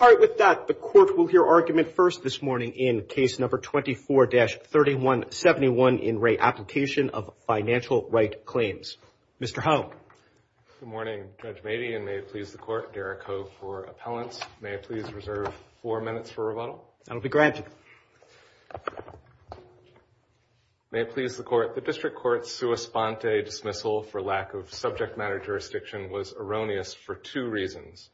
All right with that the court will hear argument first this morning in case number 24-3171 in Re Application of Financial Right Claims. Mr. Hou. Good morning, Judge Mady and may it please the court, Derek Ho for appellants. May I please reserve four minutes for rebuttal? That'll be granted. May it please the court, the district court's sua sponte dismissal for lack of subject matter jurisdiction was erroneous for two reasons.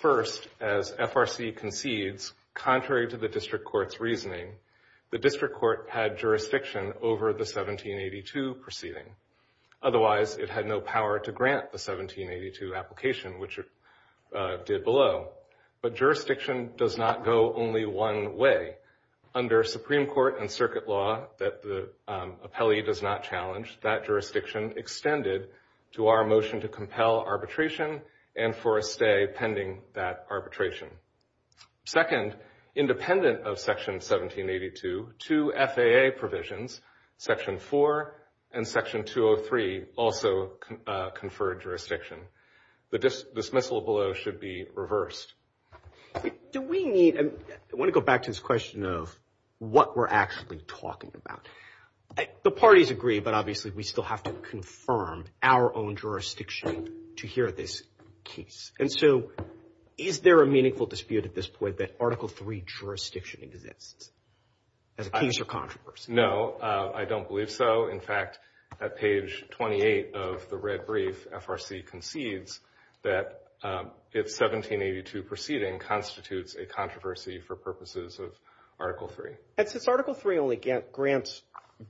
First, as FRC concedes, contrary to the district court's reasoning, the district court had jurisdiction over the 1782 proceeding. Otherwise, it had no power to grant the 1782 application, which it did below. But jurisdiction does not go only one way. Under Supreme Court and circuit law that the appellee does not challenge, that jurisdiction extended to our motion to compel arbitration and for a stay pending that arbitration. Second, independent of Section 1782, two FAA provisions, Section 4 and Section 203, also confer jurisdiction. The dismissal below should be reversed. Do we need, I want to go back to this question of what we're actually talking about. The parties agree, but obviously we still have to confirm our own jurisdiction to hear this case. And so is there a meaningful dispute at this point that Article 3 jurisdiction exists as a case or controversy? No, I don't believe so. In fact, at page 28 of the red brief, FRC concedes that it's 1782 proceeding constitutes a controversy for purposes of Article 3. And since Article 3 only grants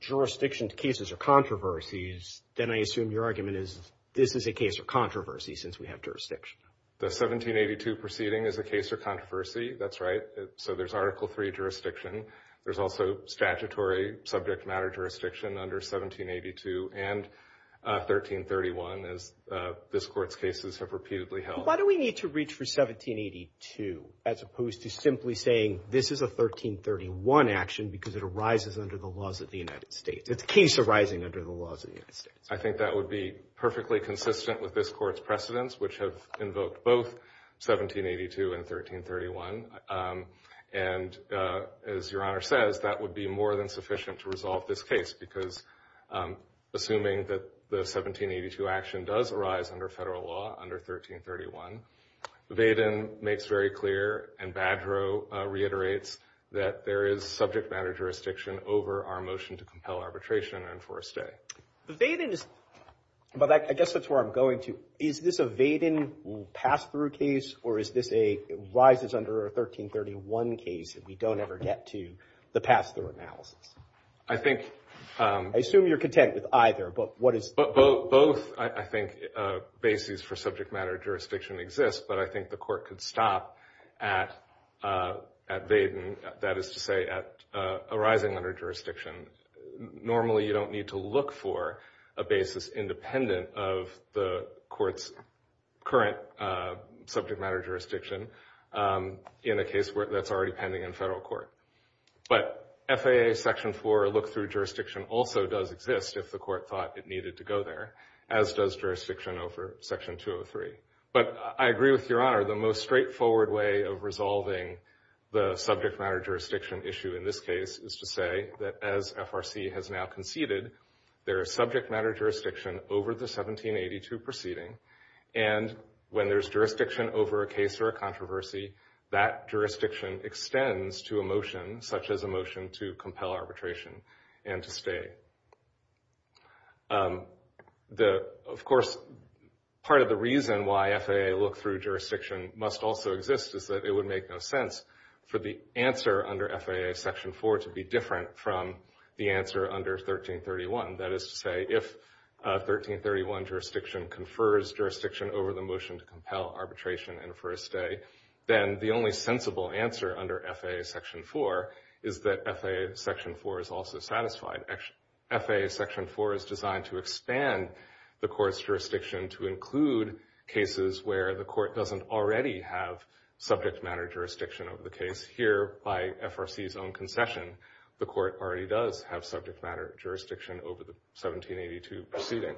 jurisdiction to cases or controversies, then I assume your argument is this is a case or controversy since we have jurisdiction. The 1782 proceeding is a case or controversy. That's right. So there's Article 3 jurisdiction. There's also statutory subject matter jurisdiction under 1782 and 1331, as this Court's cases have repeatedly held. Why do we need to reach for 1782 as opposed to simply saying this is a 1331 action because it arises under the laws of the United States? It's a case arising under the laws of the United States. I think that would be perfectly consistent with this Court's precedents, which have invoked both 1782 and 1331. And as Your Honor says, that would be more than sufficient to resolve this case because, assuming that the 1782 action does arise under federal law under 1331, the Vaden makes very clear and Badrow reiterates that there is subject matter jurisdiction over our motion to compel arbitration and enforce stay. The Vaden is, but I guess that's where I'm going to. Is this a Vaden pass-through case or is this a rises under a 1331 case that we don't ever get to the pass-through analysis? I think I assume you're content with either. But what is both? I think basis for subject matter jurisdiction exists, but I think the court could stop at Vaden. That is to say at arising under jurisdiction. Normally, you don't need to look for a basis independent of the court's current subject matter jurisdiction in a case that's already pending in federal court. But FAA Section 4 look-through jurisdiction also does exist if the court thought it needed to go there, as does jurisdiction over Section 203. But I agree with Your Honor, the most straightforward way of resolving the subject matter jurisdiction issue in this case is to say that as FRC has now conceded, there is subject matter jurisdiction over the 1782 proceeding. And when there's jurisdiction over a case or a controversy, that jurisdiction extends to a motion such as a motion to compel arbitration and to stay. Of course, part of the reason why FAA look-through jurisdiction must also exist is that it would make no sense for the answer under FAA Section 4 to be different from the answer under 1331. That is to say, if 1331 jurisdiction confers jurisdiction over the motion to compel arbitration and for a stay, then the only sensible answer under FAA Section 4 is that FAA Section 4 is also satisfied. FAA Section 4 is designed to expand the court's jurisdiction to include cases where the court doesn't already have subject matter jurisdiction over the case. Here, by FRC's own concession, the court already does have subject matter jurisdiction over the 1782 proceeding.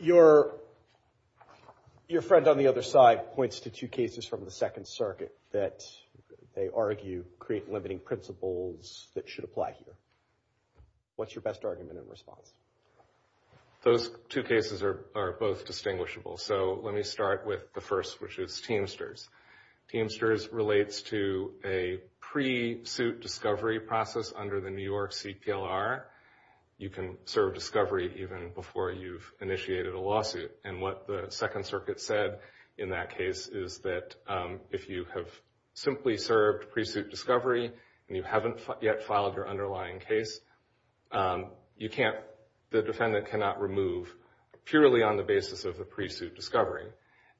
Your friend on the other side points to two cases from the Second Circuit that they argue create limiting principles that should apply here. What's your best argument in response? Those two cases are both distinguishable. So let me start with the first, which is Teamsters. Teamsters relates to a pre-suit discovery process under the New York CPLR. You can serve discovery even before you've initiated a lawsuit. And what the Second Circuit said in that case is that if you have simply served pre-suit discovery and you haven't yet filed your underlying case, you can't, the defendant cannot remove purely on the basis of the pre-suit discovery.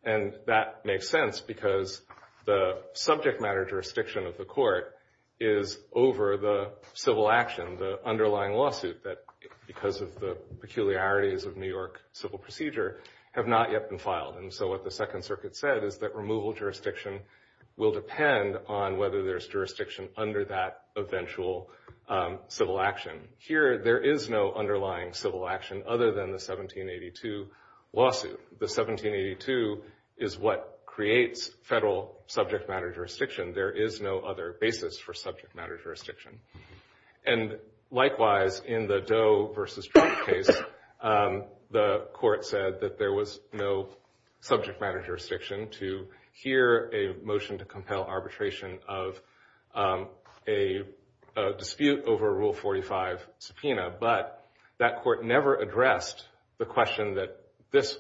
And that makes sense because the subject matter jurisdiction of the court is over the civil action, the underlying lawsuit that, because of the peculiarities of New York civil procedure, have not yet been filed. And so what the Second Circuit said is that removal jurisdiction will depend on whether there's jurisdiction under that eventual civil action. Here, there is no underlying civil action other than the 1782 lawsuit. The 1782 is what creates federal subject matter jurisdiction. There is no other basis for subject matter jurisdiction. And likewise, in the Doe versus Trump case, the court said that there was no subject matter jurisdiction to hear a motion to compel arbitration of a dispute over Rule 45 subpoena. But that court never addressed the question that this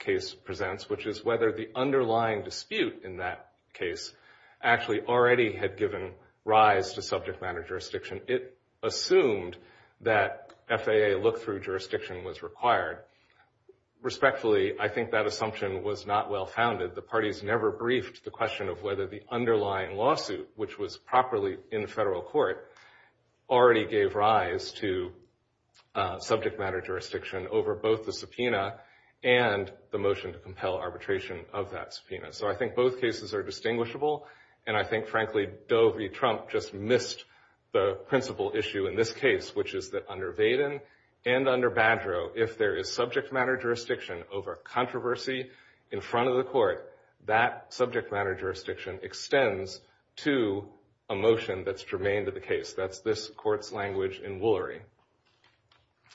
case presents, which is whether the underlying dispute in that case actually already had given rise to subject matter jurisdiction. It assumed that FAA look-through jurisdiction was required. Respectfully, I think that assumption was not well-founded. The parties never briefed the question of whether the underlying lawsuit, which was properly in the federal court, already gave rise to subject matter jurisdiction over both the subpoena and the motion to compel arbitration of that subpoena. So I think both cases are distinguishable. And I think, frankly, Doe v. Trump just missed the principal issue in this case, which is that under Vaden and under Badreau, if there is subject matter jurisdiction over controversy in front of the court, that subject matter jurisdiction extends to a motion that's germane to the case. That's this court's language in Woolery.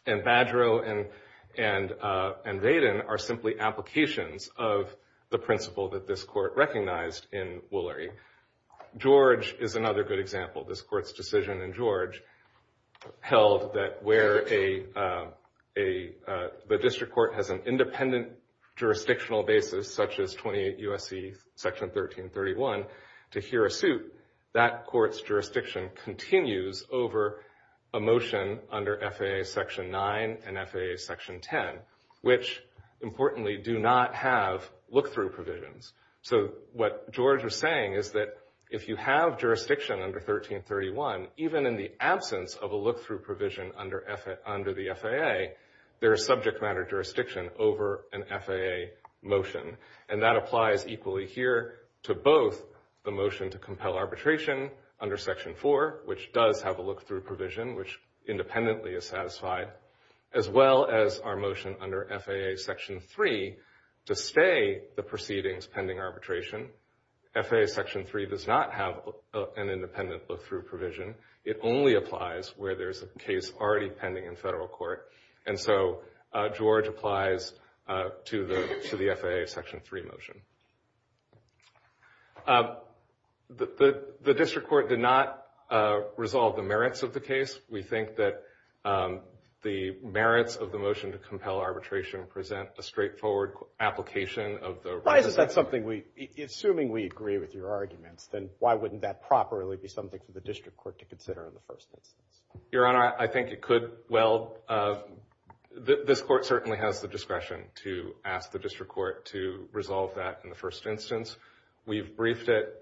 And Badreau and Vaden are simply applications of the principle that this court recognized in Woolery. George is another good example. This court's decision in George held that where the district court has an independent jurisdictional basis, such as 28 U.S.C. Section 1331, to hear a suit, that court's jurisdiction continues over a motion under FAA Section 9 and FAA Section 10, which, importantly, do not have look-through provisions. So what George was saying is that if you have jurisdiction under 1331, even in the absence of a look-through provision under the FAA, there is subject matter jurisdiction over an FAA motion. And that applies equally here to both the motion to compel arbitration under Section 4, which does have a look-through provision, which independently is satisfied, as well as our motion under FAA Section 3 to stay the proceedings pending arbitration. FAA Section 3 does not have an independent look-through provision. It only applies where there's a case already pending in federal court. And so George applies to the FAA Section 3 motion. The district court did not resolve the merits of the case. We think that the merits of the motion to compel arbitration present a straightforward application of the right to... Why is that something we, assuming we agree with your arguments, then why wouldn't that properly be something for the district court to consider in the first instance? Your Honor, I think it could. Well, this court certainly has the discretion to ask the district court to resolve that in the first instance. We've briefed it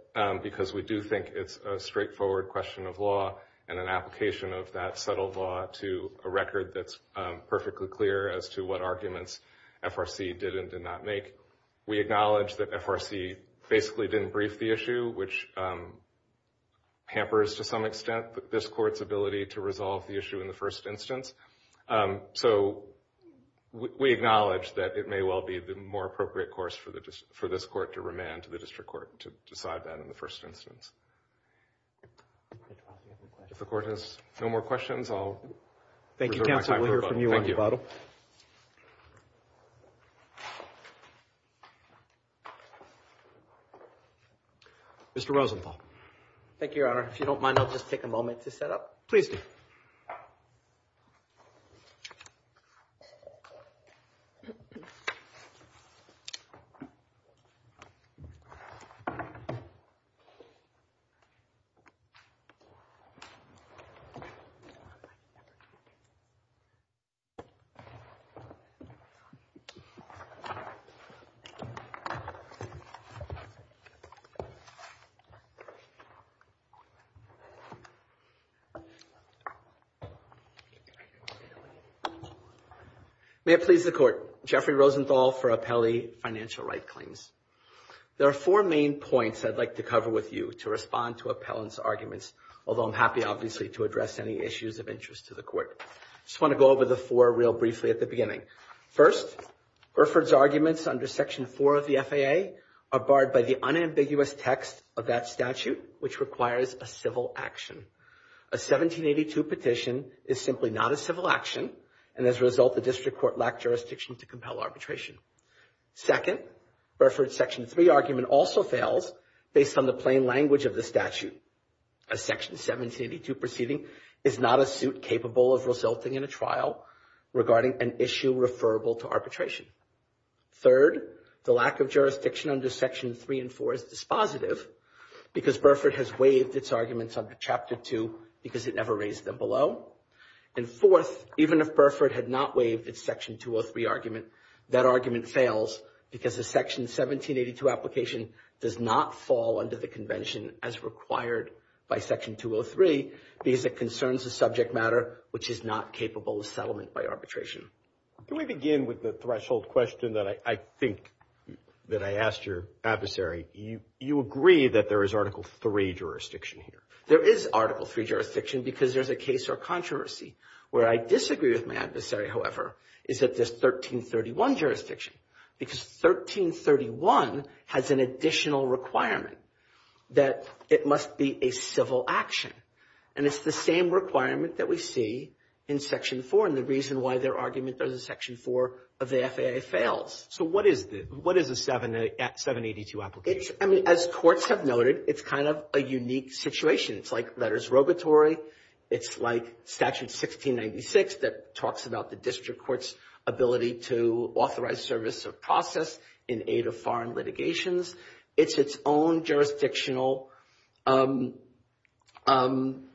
because we do think it's a straightforward question of law and an application of that subtle law to a record that's perfectly clear as to what arguments FRC did and did not make. We acknowledge that FRC basically didn't brief the issue, which hampers to some extent this court's ability to resolve the issue in the first instance. So we acknowledge that it may well be the more appropriate course for this court to remand to the district court to decide that in the first instance. If the court has no more questions, I'll... Thank you, counsel. We'll hear from you on your bottle. Mr. Rosenthal. Thank you, Your Honor. If you don't mind, I'll just take a moment to set up. Please do. May it please the court. Jeffrey Rosenthal for Appellee Financial Right Claims. There are four main points I'd like to cover with you to respond to appellant's arguments, although I'm happy, obviously, to address any issues of interest to the court. Just want to go over the four real briefly at the beginning. First, Burford's arguments under Section 4 of the FAA are barred by the unambiguous text of that statute, which requires a civil action. A 1782 petition is simply not a civil action, and as a result, the district court lacked jurisdiction to compel arbitration. Second, Burford's Section 3 argument also fails based on the plain language of the statute. A Section 1782 proceeding is not a suit capable of resulting in a trial regarding an issue referable to arbitration. Third, the lack of jurisdiction under Section 3 and 4 is dispositive because Burford has waived its arguments under Chapter 2 because it never raised them below. And fourth, even if Burford had not waived its Section 203 argument, that argument fails because the Section 1782 application does not fall under the convention as required by Section 203 because it concerns a subject matter which is not capable of settlement by arbitration. Can we begin with the threshold question that I think that I asked your adversary? You agree that there is Article 3 jurisdiction here? There is Article 3 jurisdiction because there's a case or controversy. Where I disagree with my adversary, however, is that there's 1331 jurisdiction because 1331 has an additional requirement that it must be a civil action. And it's the same requirement that we see in Section 4 and the reason why their argument under Section 4 of the FAA fails. So what is the — what is a 1782 application? It's — I mean, as courts have noted, it's kind of a unique situation. It's like letters robatory. It's like Statute 1696 that talks about the district court's ability to authorize service of process in aid of foreign litigations. It's its own jurisdictional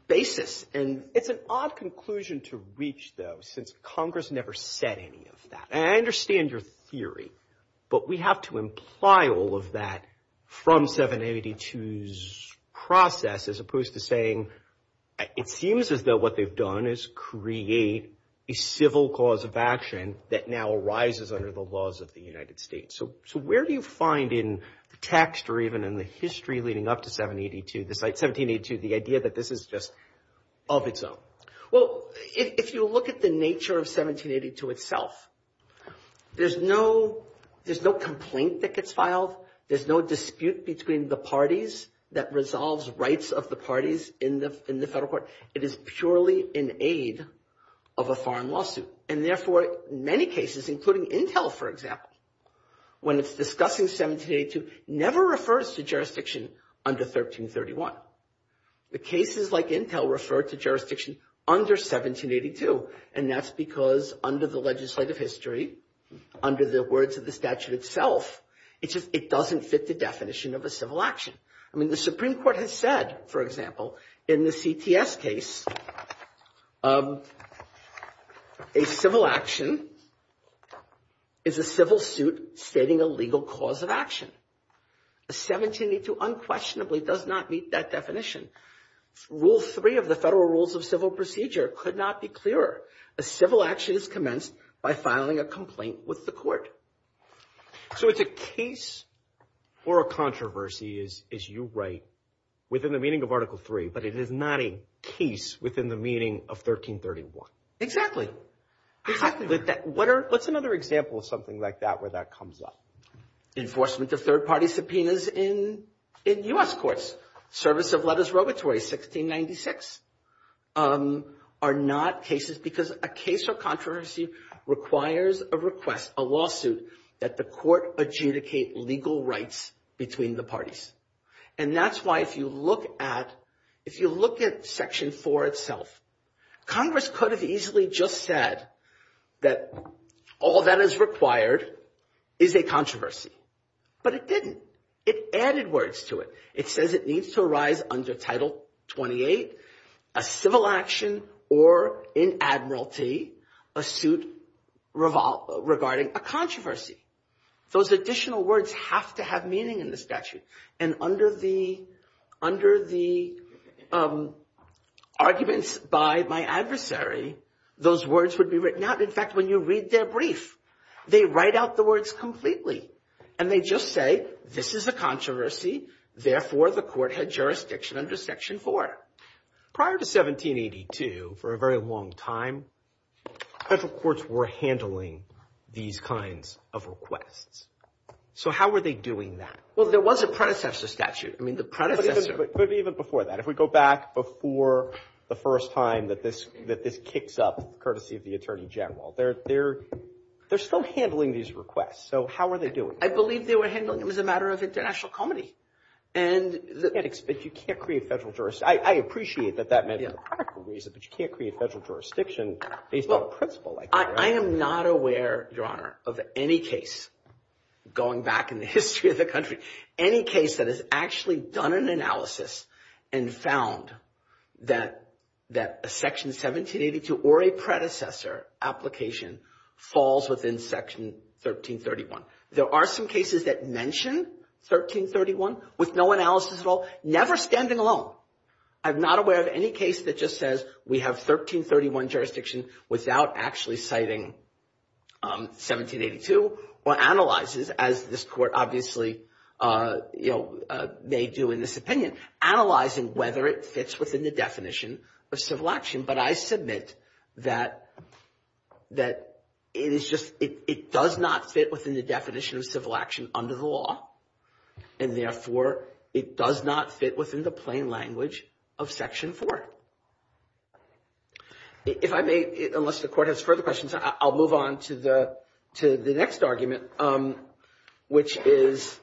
basis. And it's an odd conclusion to reach, though, since Congress never said any of that. And I understand your theory, but we have to imply all of that from 1782's process as opposed to saying, it seems as though what they've done is create a civil cause of action that now arises under the laws of the United States. So where do you find in the text or even in the history leading up to 1782 the idea that this is just of its own? Well, if you look at the nature of 1782 itself, there's no — there's no complaint that gets filed. There's no dispute between the parties that resolves rights of the parties in the federal court. It is purely in aid of a foreign lawsuit. And therefore, in many cases, including Intel, for example, when it's discussing 1782, never refers to jurisdiction under 1331. The cases like Intel refer to jurisdiction under 1782. And that's because under the legislative history, under the words of the statute itself, it doesn't fit the definition of a civil action. I mean, the Supreme Court has said, for example, in the CTS case, a civil action is a civil suit stating a legal cause of action. 1782 unquestionably does not meet that definition. Rule 3 of the Federal Rules of Civil Procedure could not be clearer. A civil action is commenced by filing a complaint with the court. So it's a case or a controversy, as you write, within the meaning of Article 3, but it is not a case within the meaning of 1331. Exactly. Exactly. What's another example of something like that where that comes up? Enforcement of third-party subpoenas in U.S. courts. Service of letters robatory, 1696, are not cases because a case or controversy requires a request, a lawsuit, that the court adjudicate legal rights between the parties. And that's why if you look at Section 4 itself, Congress could have easily just said that all that is required is a controversy. But it didn't. It added words to it. It says it needs to arise under Title 28, a civil action, or in admiralty, a suit regarding a controversy. Those additional words have to have meaning in the statute. And under the arguments by my adversary, those words would be written out. In fact, when you read their brief, they write out the words completely. And they just say, this is a controversy. Therefore, the court had jurisdiction under Section 4. Prior to 1782, for a very long time, federal courts were handling these kinds of requests. So how were they doing that? Well, there was a predecessor statute. I mean, the predecessor. But even before that, if we go back before the first time that this kicks up, courtesy of the Attorney General, they're still handling these requests. So how are they doing? I believe they were handling them as a matter of international comity. And you can't create federal jurisdiction. I appreciate that that may be the practical reason, but you can't create federal jurisdiction based on a principle like that. I am not aware, Your Honor, of any case, going back in the history of the country, any case that has actually done an analysis and found that a Section 1782 or a predecessor application falls within Section 1331. There are some cases that mention 1331 with no analysis at all, never standing alone. I'm not aware of any case that just says we have 1331 jurisdiction without actually citing 1782 or analyzes, as this court obviously may do in this opinion, analyzing whether it fits within the definition of civil action. But I submit that it does not fit within the definition of civil action under the law. And therefore, it does not fit within the plain language of Section 4. If I may, unless the Court has further questions, I'll move on to the next argument, which is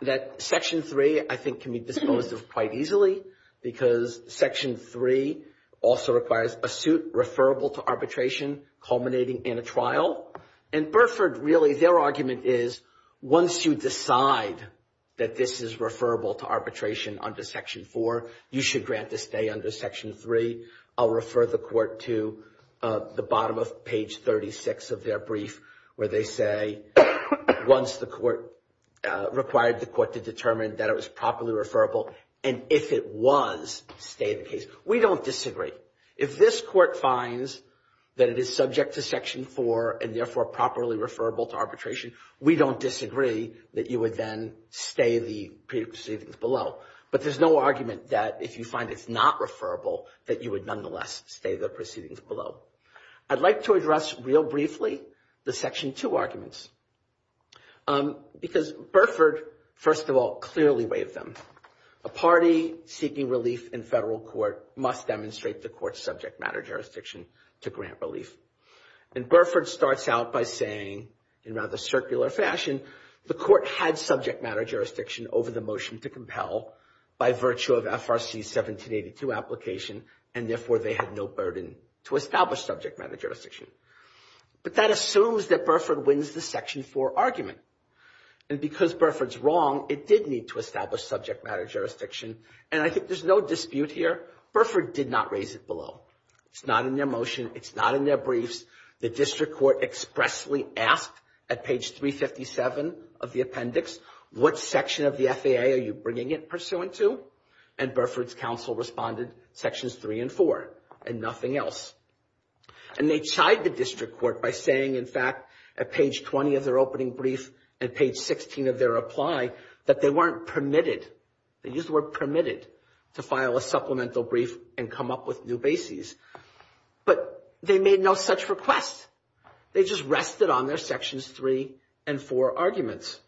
that Section 3, I think, can be disposed of quite easily. Because Section 3 also requires a suit referable to arbitration culminating in a trial. And Burford, really, their argument is, once you decide that this is referable to arbitration under Section 4, you should grant to stay under Section 3. I'll refer the Court to the bottom of page 36 of their brief, where they say, once the Court required the Court to determine that it was properly referable. And if it was, stay in the case. We don't disagree. If this Court finds that it is subject to Section 4 and therefore properly referable to arbitration, we don't disagree that you would then stay the proceedings below. But there's no argument that if you find it's not referable, that you would nonetheless stay the proceedings below. I'd like to address, real briefly, the Section 2 arguments, because Burford, first of all, clearly waived them. A party seeking relief in federal court must demonstrate the Court's subject matter jurisdiction to grant relief. And Burford starts out by saying, in rather circular fashion, the Court had subject matter jurisdiction over the motion to compel by virtue of FRC 1782 application, and therefore they had no burden to establish subject matter jurisdiction. But that assumes that Burford wins the Section 4 argument. And because Burford's wrong, it did need to establish subject matter jurisdiction. And I think there's no dispute here. Burford did not raise it below. It's not in their motion. It's not in their briefs. The District Court expressly asked at page 357 of the appendix, what section of the FAA are you bringing it pursuant to? And Burford's counsel responded, Sections 3 and 4, and nothing else. And they tried the District Court by saying, in fact, at page 20 of their opening brief and page 16 of their reply, that they weren't permitted, they used the word permitted, to file a supplemental brief and come up with new bases. But they made no such request. They just rested on their Sections 3 and 4 arguments.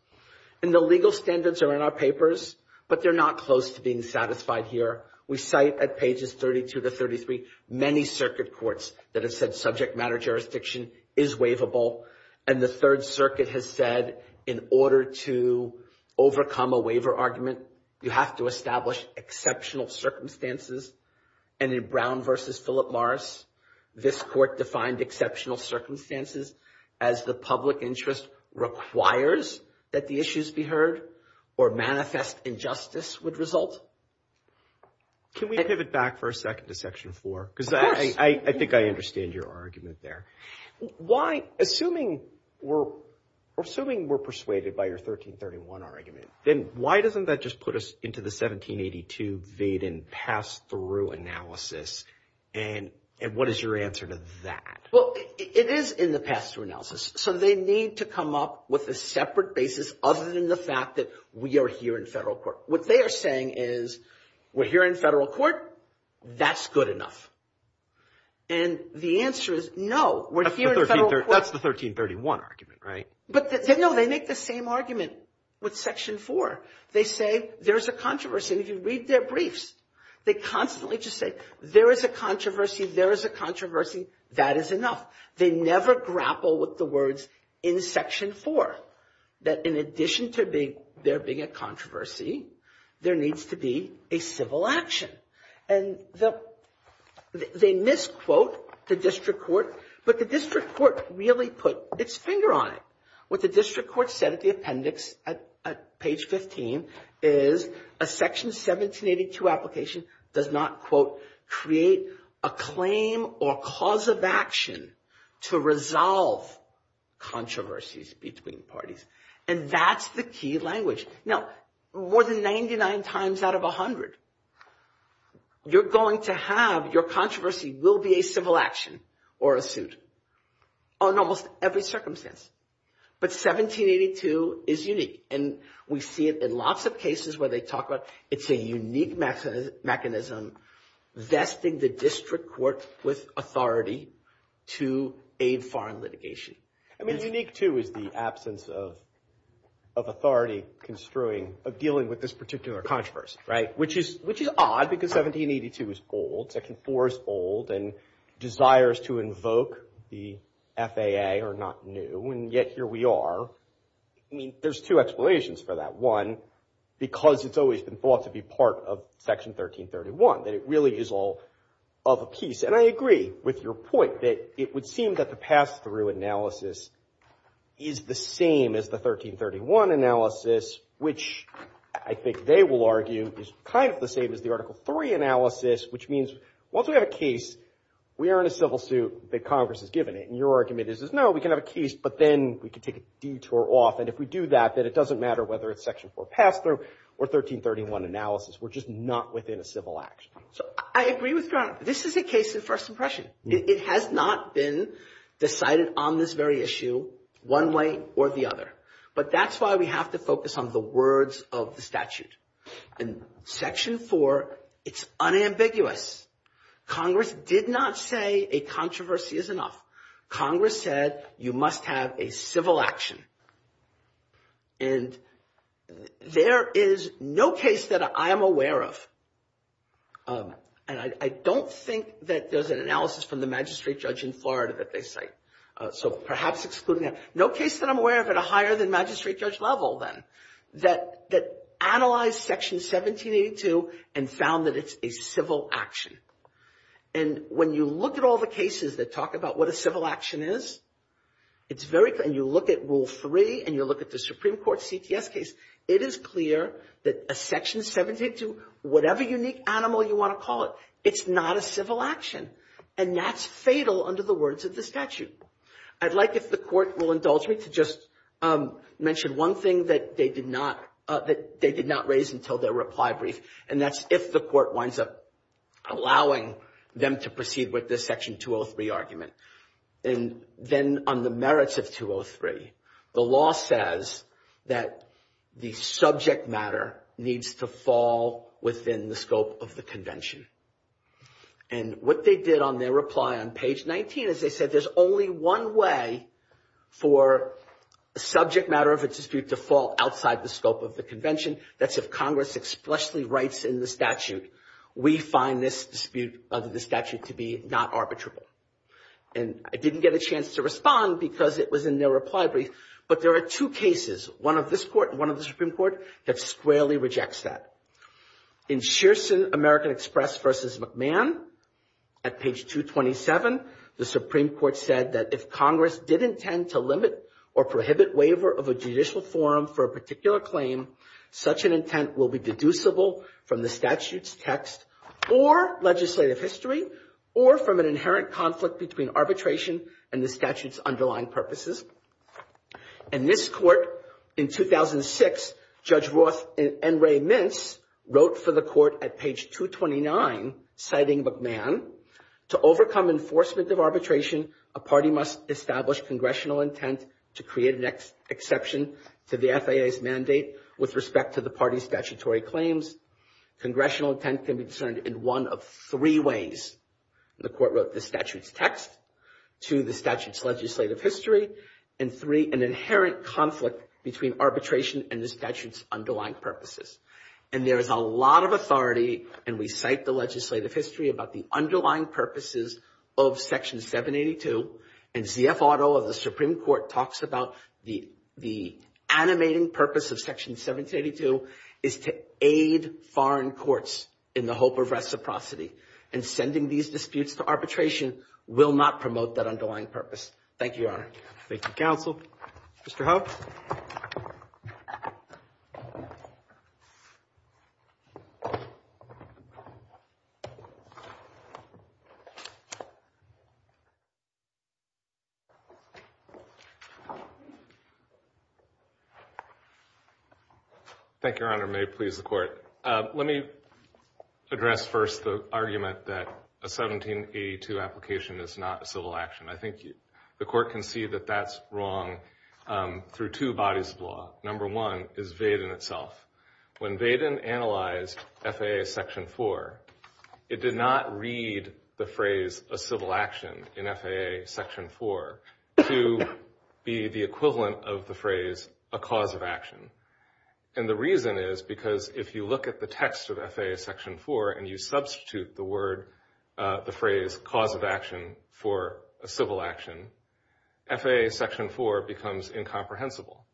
And the legal standards are in our papers, but they're not close to being satisfied here. We cite at pages 32 to 33 many circuit courts that have said subject matter jurisdiction is waivable. And the Third Circuit has said, in order to overcome a waiver argument, you have to establish exceptional circumstances. And in Brown v. Philip Morris, this court defined exceptional circumstances as the public interest requires that the issues be heard or manifest injustice would result. Can we pivot back for a second to Section 4? Because I think I understand your argument there. Why, assuming we're persuaded by your 1331 argument, then why doesn't that just put us into the 1782 Vaden pass-through analysis? And what is your answer to that? Well, it is in the pass-through analysis. So they need to come up with a separate basis other than the fact that we are here in federal court. What they are saying is, we're here in federal court, that's good enough. And the answer is, no, we're here in federal court. That's the 1331 argument, right? But, no, they make the same argument with Section 4. They say, there's a controversy. If you read their briefs, they constantly just say, there is a controversy, there is a controversy, that is enough. They never grapple with the words in Section 4, that in addition to there being a controversy, there needs to be a civil action. And they misquote the district court, but the district court really put its finger on it. What the district court said at the appendix, at page 15, is a Section 1782 application does not, quote, create a claim or cause of action to resolve controversies between parties. And that's the key language. Now, more than 99 times out of 100, you're going to have, your controversy will be a civil action or a suit on almost every circumstance. But 1782 is unique. And we see it in lots of cases where they talk about, it's a unique mechanism vesting the district court with authority to aid foreign litigation. I mean, unique, too, is the absence of authority construing, of dealing with this particular controversy, right? Which is odd, because 1782 is old, Section 4 is old, and desires to invoke the FAA are not new, and yet here we are. I mean, there's two explanations for that. One, because it's always been thought to be part of Section 1331, that it really is all of a piece. And I agree with your point that it would seem that the pass-through analysis is the same as the 1331 analysis, which I think they will argue is kind of the same as the Article 3 analysis, which means once we have a case, we are in a civil suit that Congress has given it. And your argument is, no, we can have a case, but then we can take a detour off. And if we do that, then it doesn't matter whether it's Section 4 pass-through or 1331 analysis. We're just not within a civil action. So I agree with Grant. This is a case of first impression. It has not been decided on this very issue one way or the other. But that's why we have to focus on the words of the statute. And Section 4, it's unambiguous. Congress did not say a controversy is enough. Congress said you must have a civil action. And there is no case that I am aware of, and I don't think that there's an analysis from the magistrate judge in Florida that they cite, so perhaps excluding that, no case that I'm aware of at a higher than magistrate judge level then, that analyzed Section 1782 and found that it's a civil action. And when you look at all the cases that talk about what a civil action is, and you look at Rule 3 and you look at the Supreme Court CTS case, it is clear that a Section 1782, whatever unique animal you want to call it, it's not a civil action. And that's fatal under the words of the statute. I'd like if the court will indulge me to just mention one thing that they did not raise until their reply brief. And that's if the court winds up allowing them to proceed with this Section 203 argument. And then on the merits of 203, the law says that the subject matter needs to fall within the scope of the convention. And what they did on their reply on page 19 is they said there's only one way for subject matter of a dispute to fall outside the scope of the convention. That's if Congress expressly writes in the statute, we find this dispute under the statute to be not arbitrable. And I didn't get a chance to respond because it was in their reply brief, but there are two cases, one of this court and one of the Supreme Court, that squarely rejects that. In Shearson American Express v. McMahon, at page 227, the Supreme Court said that if Congress did intend to limit or prohibit waiver of a judicial forum for a particular claim, such an intent will be deducible from the statute's text or legislative history or from an inherent conflict between arbitration and the statute's underlying purposes. In this court, in 2006, Judge Roth and Ray Mintz wrote for the court at page 229, citing McMahon, to overcome enforcement of arbitration, a party must establish congressional intent to create an exception to the FAA's mandate with respect to the party's statutory claims. Congressional intent can be discerned in one of three ways. The court wrote the statute's text, two, the statute's legislative history, and three, an inherent conflict between arbitration and the statute's underlying purposes. And there is a lot of authority, and we cite the legislative history, about the underlying purposes of Section 782. And Z.F. Otto of the Supreme Court talks about the animating purpose of Section 782 is to aid foreign courts in the hope of reciprocity and sending these disputes to arbitration will not promote that underlying purpose. Thank you, Your Honor. Thank you, counsel. Mr. Hough. Thank you, Your Honor. May it please the court. Let me address first the argument that a 1782 application is not a civil action. I think the court can see that that's wrong through two bodies of law. Number one is Vaden itself. When Vaden analyzed FAA Section 4, it did not read the phrase a civil action in FAA Section 4 to be the equivalent of the phrase a cause of action. And the reason is because if you look at the text of FAA Section 4 and you substitute the phrase cause of action for a civil action, FAA Section 4 becomes incomprehensible.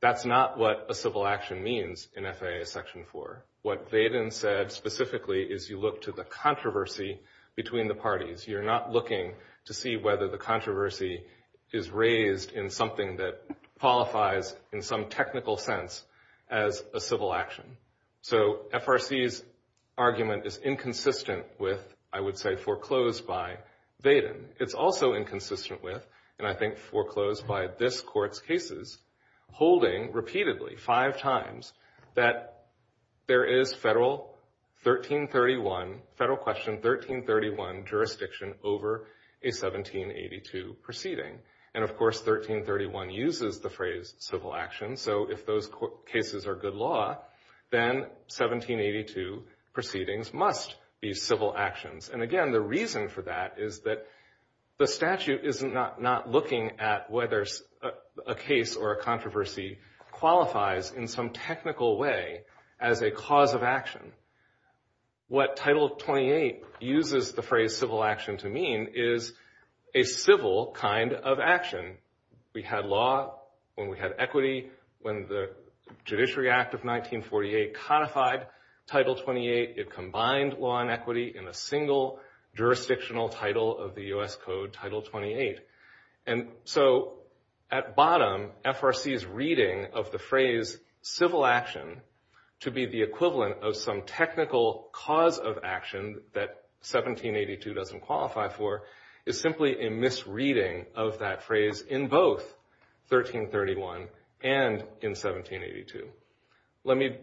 That's not what a civil action means in FAA Section 4. What Vaden said specifically is you look to the controversy between the parties. You're not looking to see whether the controversy is raised in something that qualifies in some technical sense as a civil action. So FRC's argument is inconsistent with, I would say, foreclosed by Vaden. It's also inconsistent with, and I think foreclosed by this court's cases, holding repeatedly five times that there is federal 1331, federal question 1331, jurisdiction over a 1782 proceeding. And of course, 1331 uses the phrase civil action. So if those cases are good law, then 1782 proceedings must be civil actions. And again, the reason for that is that the statute is not looking at whether a case or a controversy qualifies in some technical way as a cause of action. What Title 28 uses the phrase civil action to mean is a civil kind of action. When we had law, when we had equity, when the Judiciary Act of 1948 codified Title 28, it combined law and equity in a single jurisdictional title of the U.S. Code, Title 28. And so at bottom, FRC's reading of the phrase civil action to be the equivalent of some technical cause of action that 1782 doesn't qualify for is simply a misreading of that phrase in both 1331 and in 1782. Let me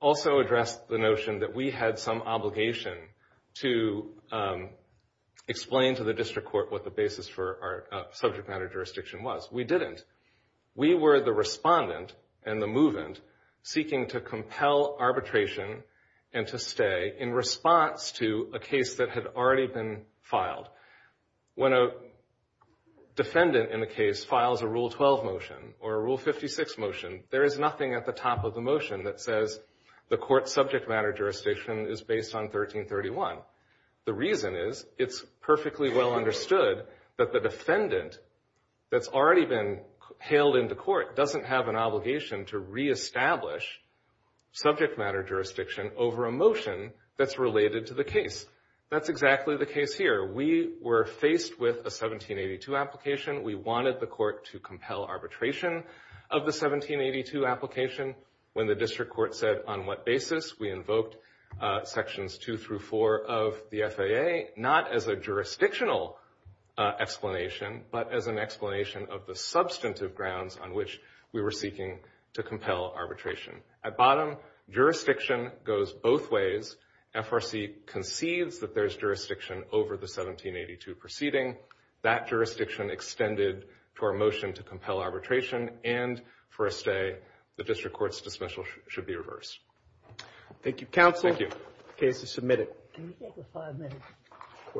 also address the notion that we had some obligation to explain to the district court what the basis for our subject matter jurisdiction was. We didn't. We were the respondent and the movant seeking to compel arbitration and to stay in response to a case that had already been filed. When a defendant in a case files a Rule 12 motion or a Rule 56 motion, there is nothing at the top of the motion that says the court's subject matter jurisdiction is based on 1331. The reason is it's perfectly well understood that the defendant that's already been hailed into court doesn't have an obligation to reestablish subject matter jurisdiction over a motion that's related to the case. That's exactly the case here. We were faced with a 1782 application. We wanted the court to compel arbitration of the 1782 application. When the district court said on what basis, we invoked sections two through four of the FAA, not as a jurisdictional explanation, but as an explanation of the substantive grounds on which we were seeking to compel arbitration. At bottom, jurisdiction goes both ways. FRC conceives that there's jurisdiction over the 1782 proceeding. That jurisdiction extended to our motion to compel arbitration and for a stay, the district court's dismissal should be reversed. Thank you, counsel. Thank you. The case is submitted. Can we take a five minute portion?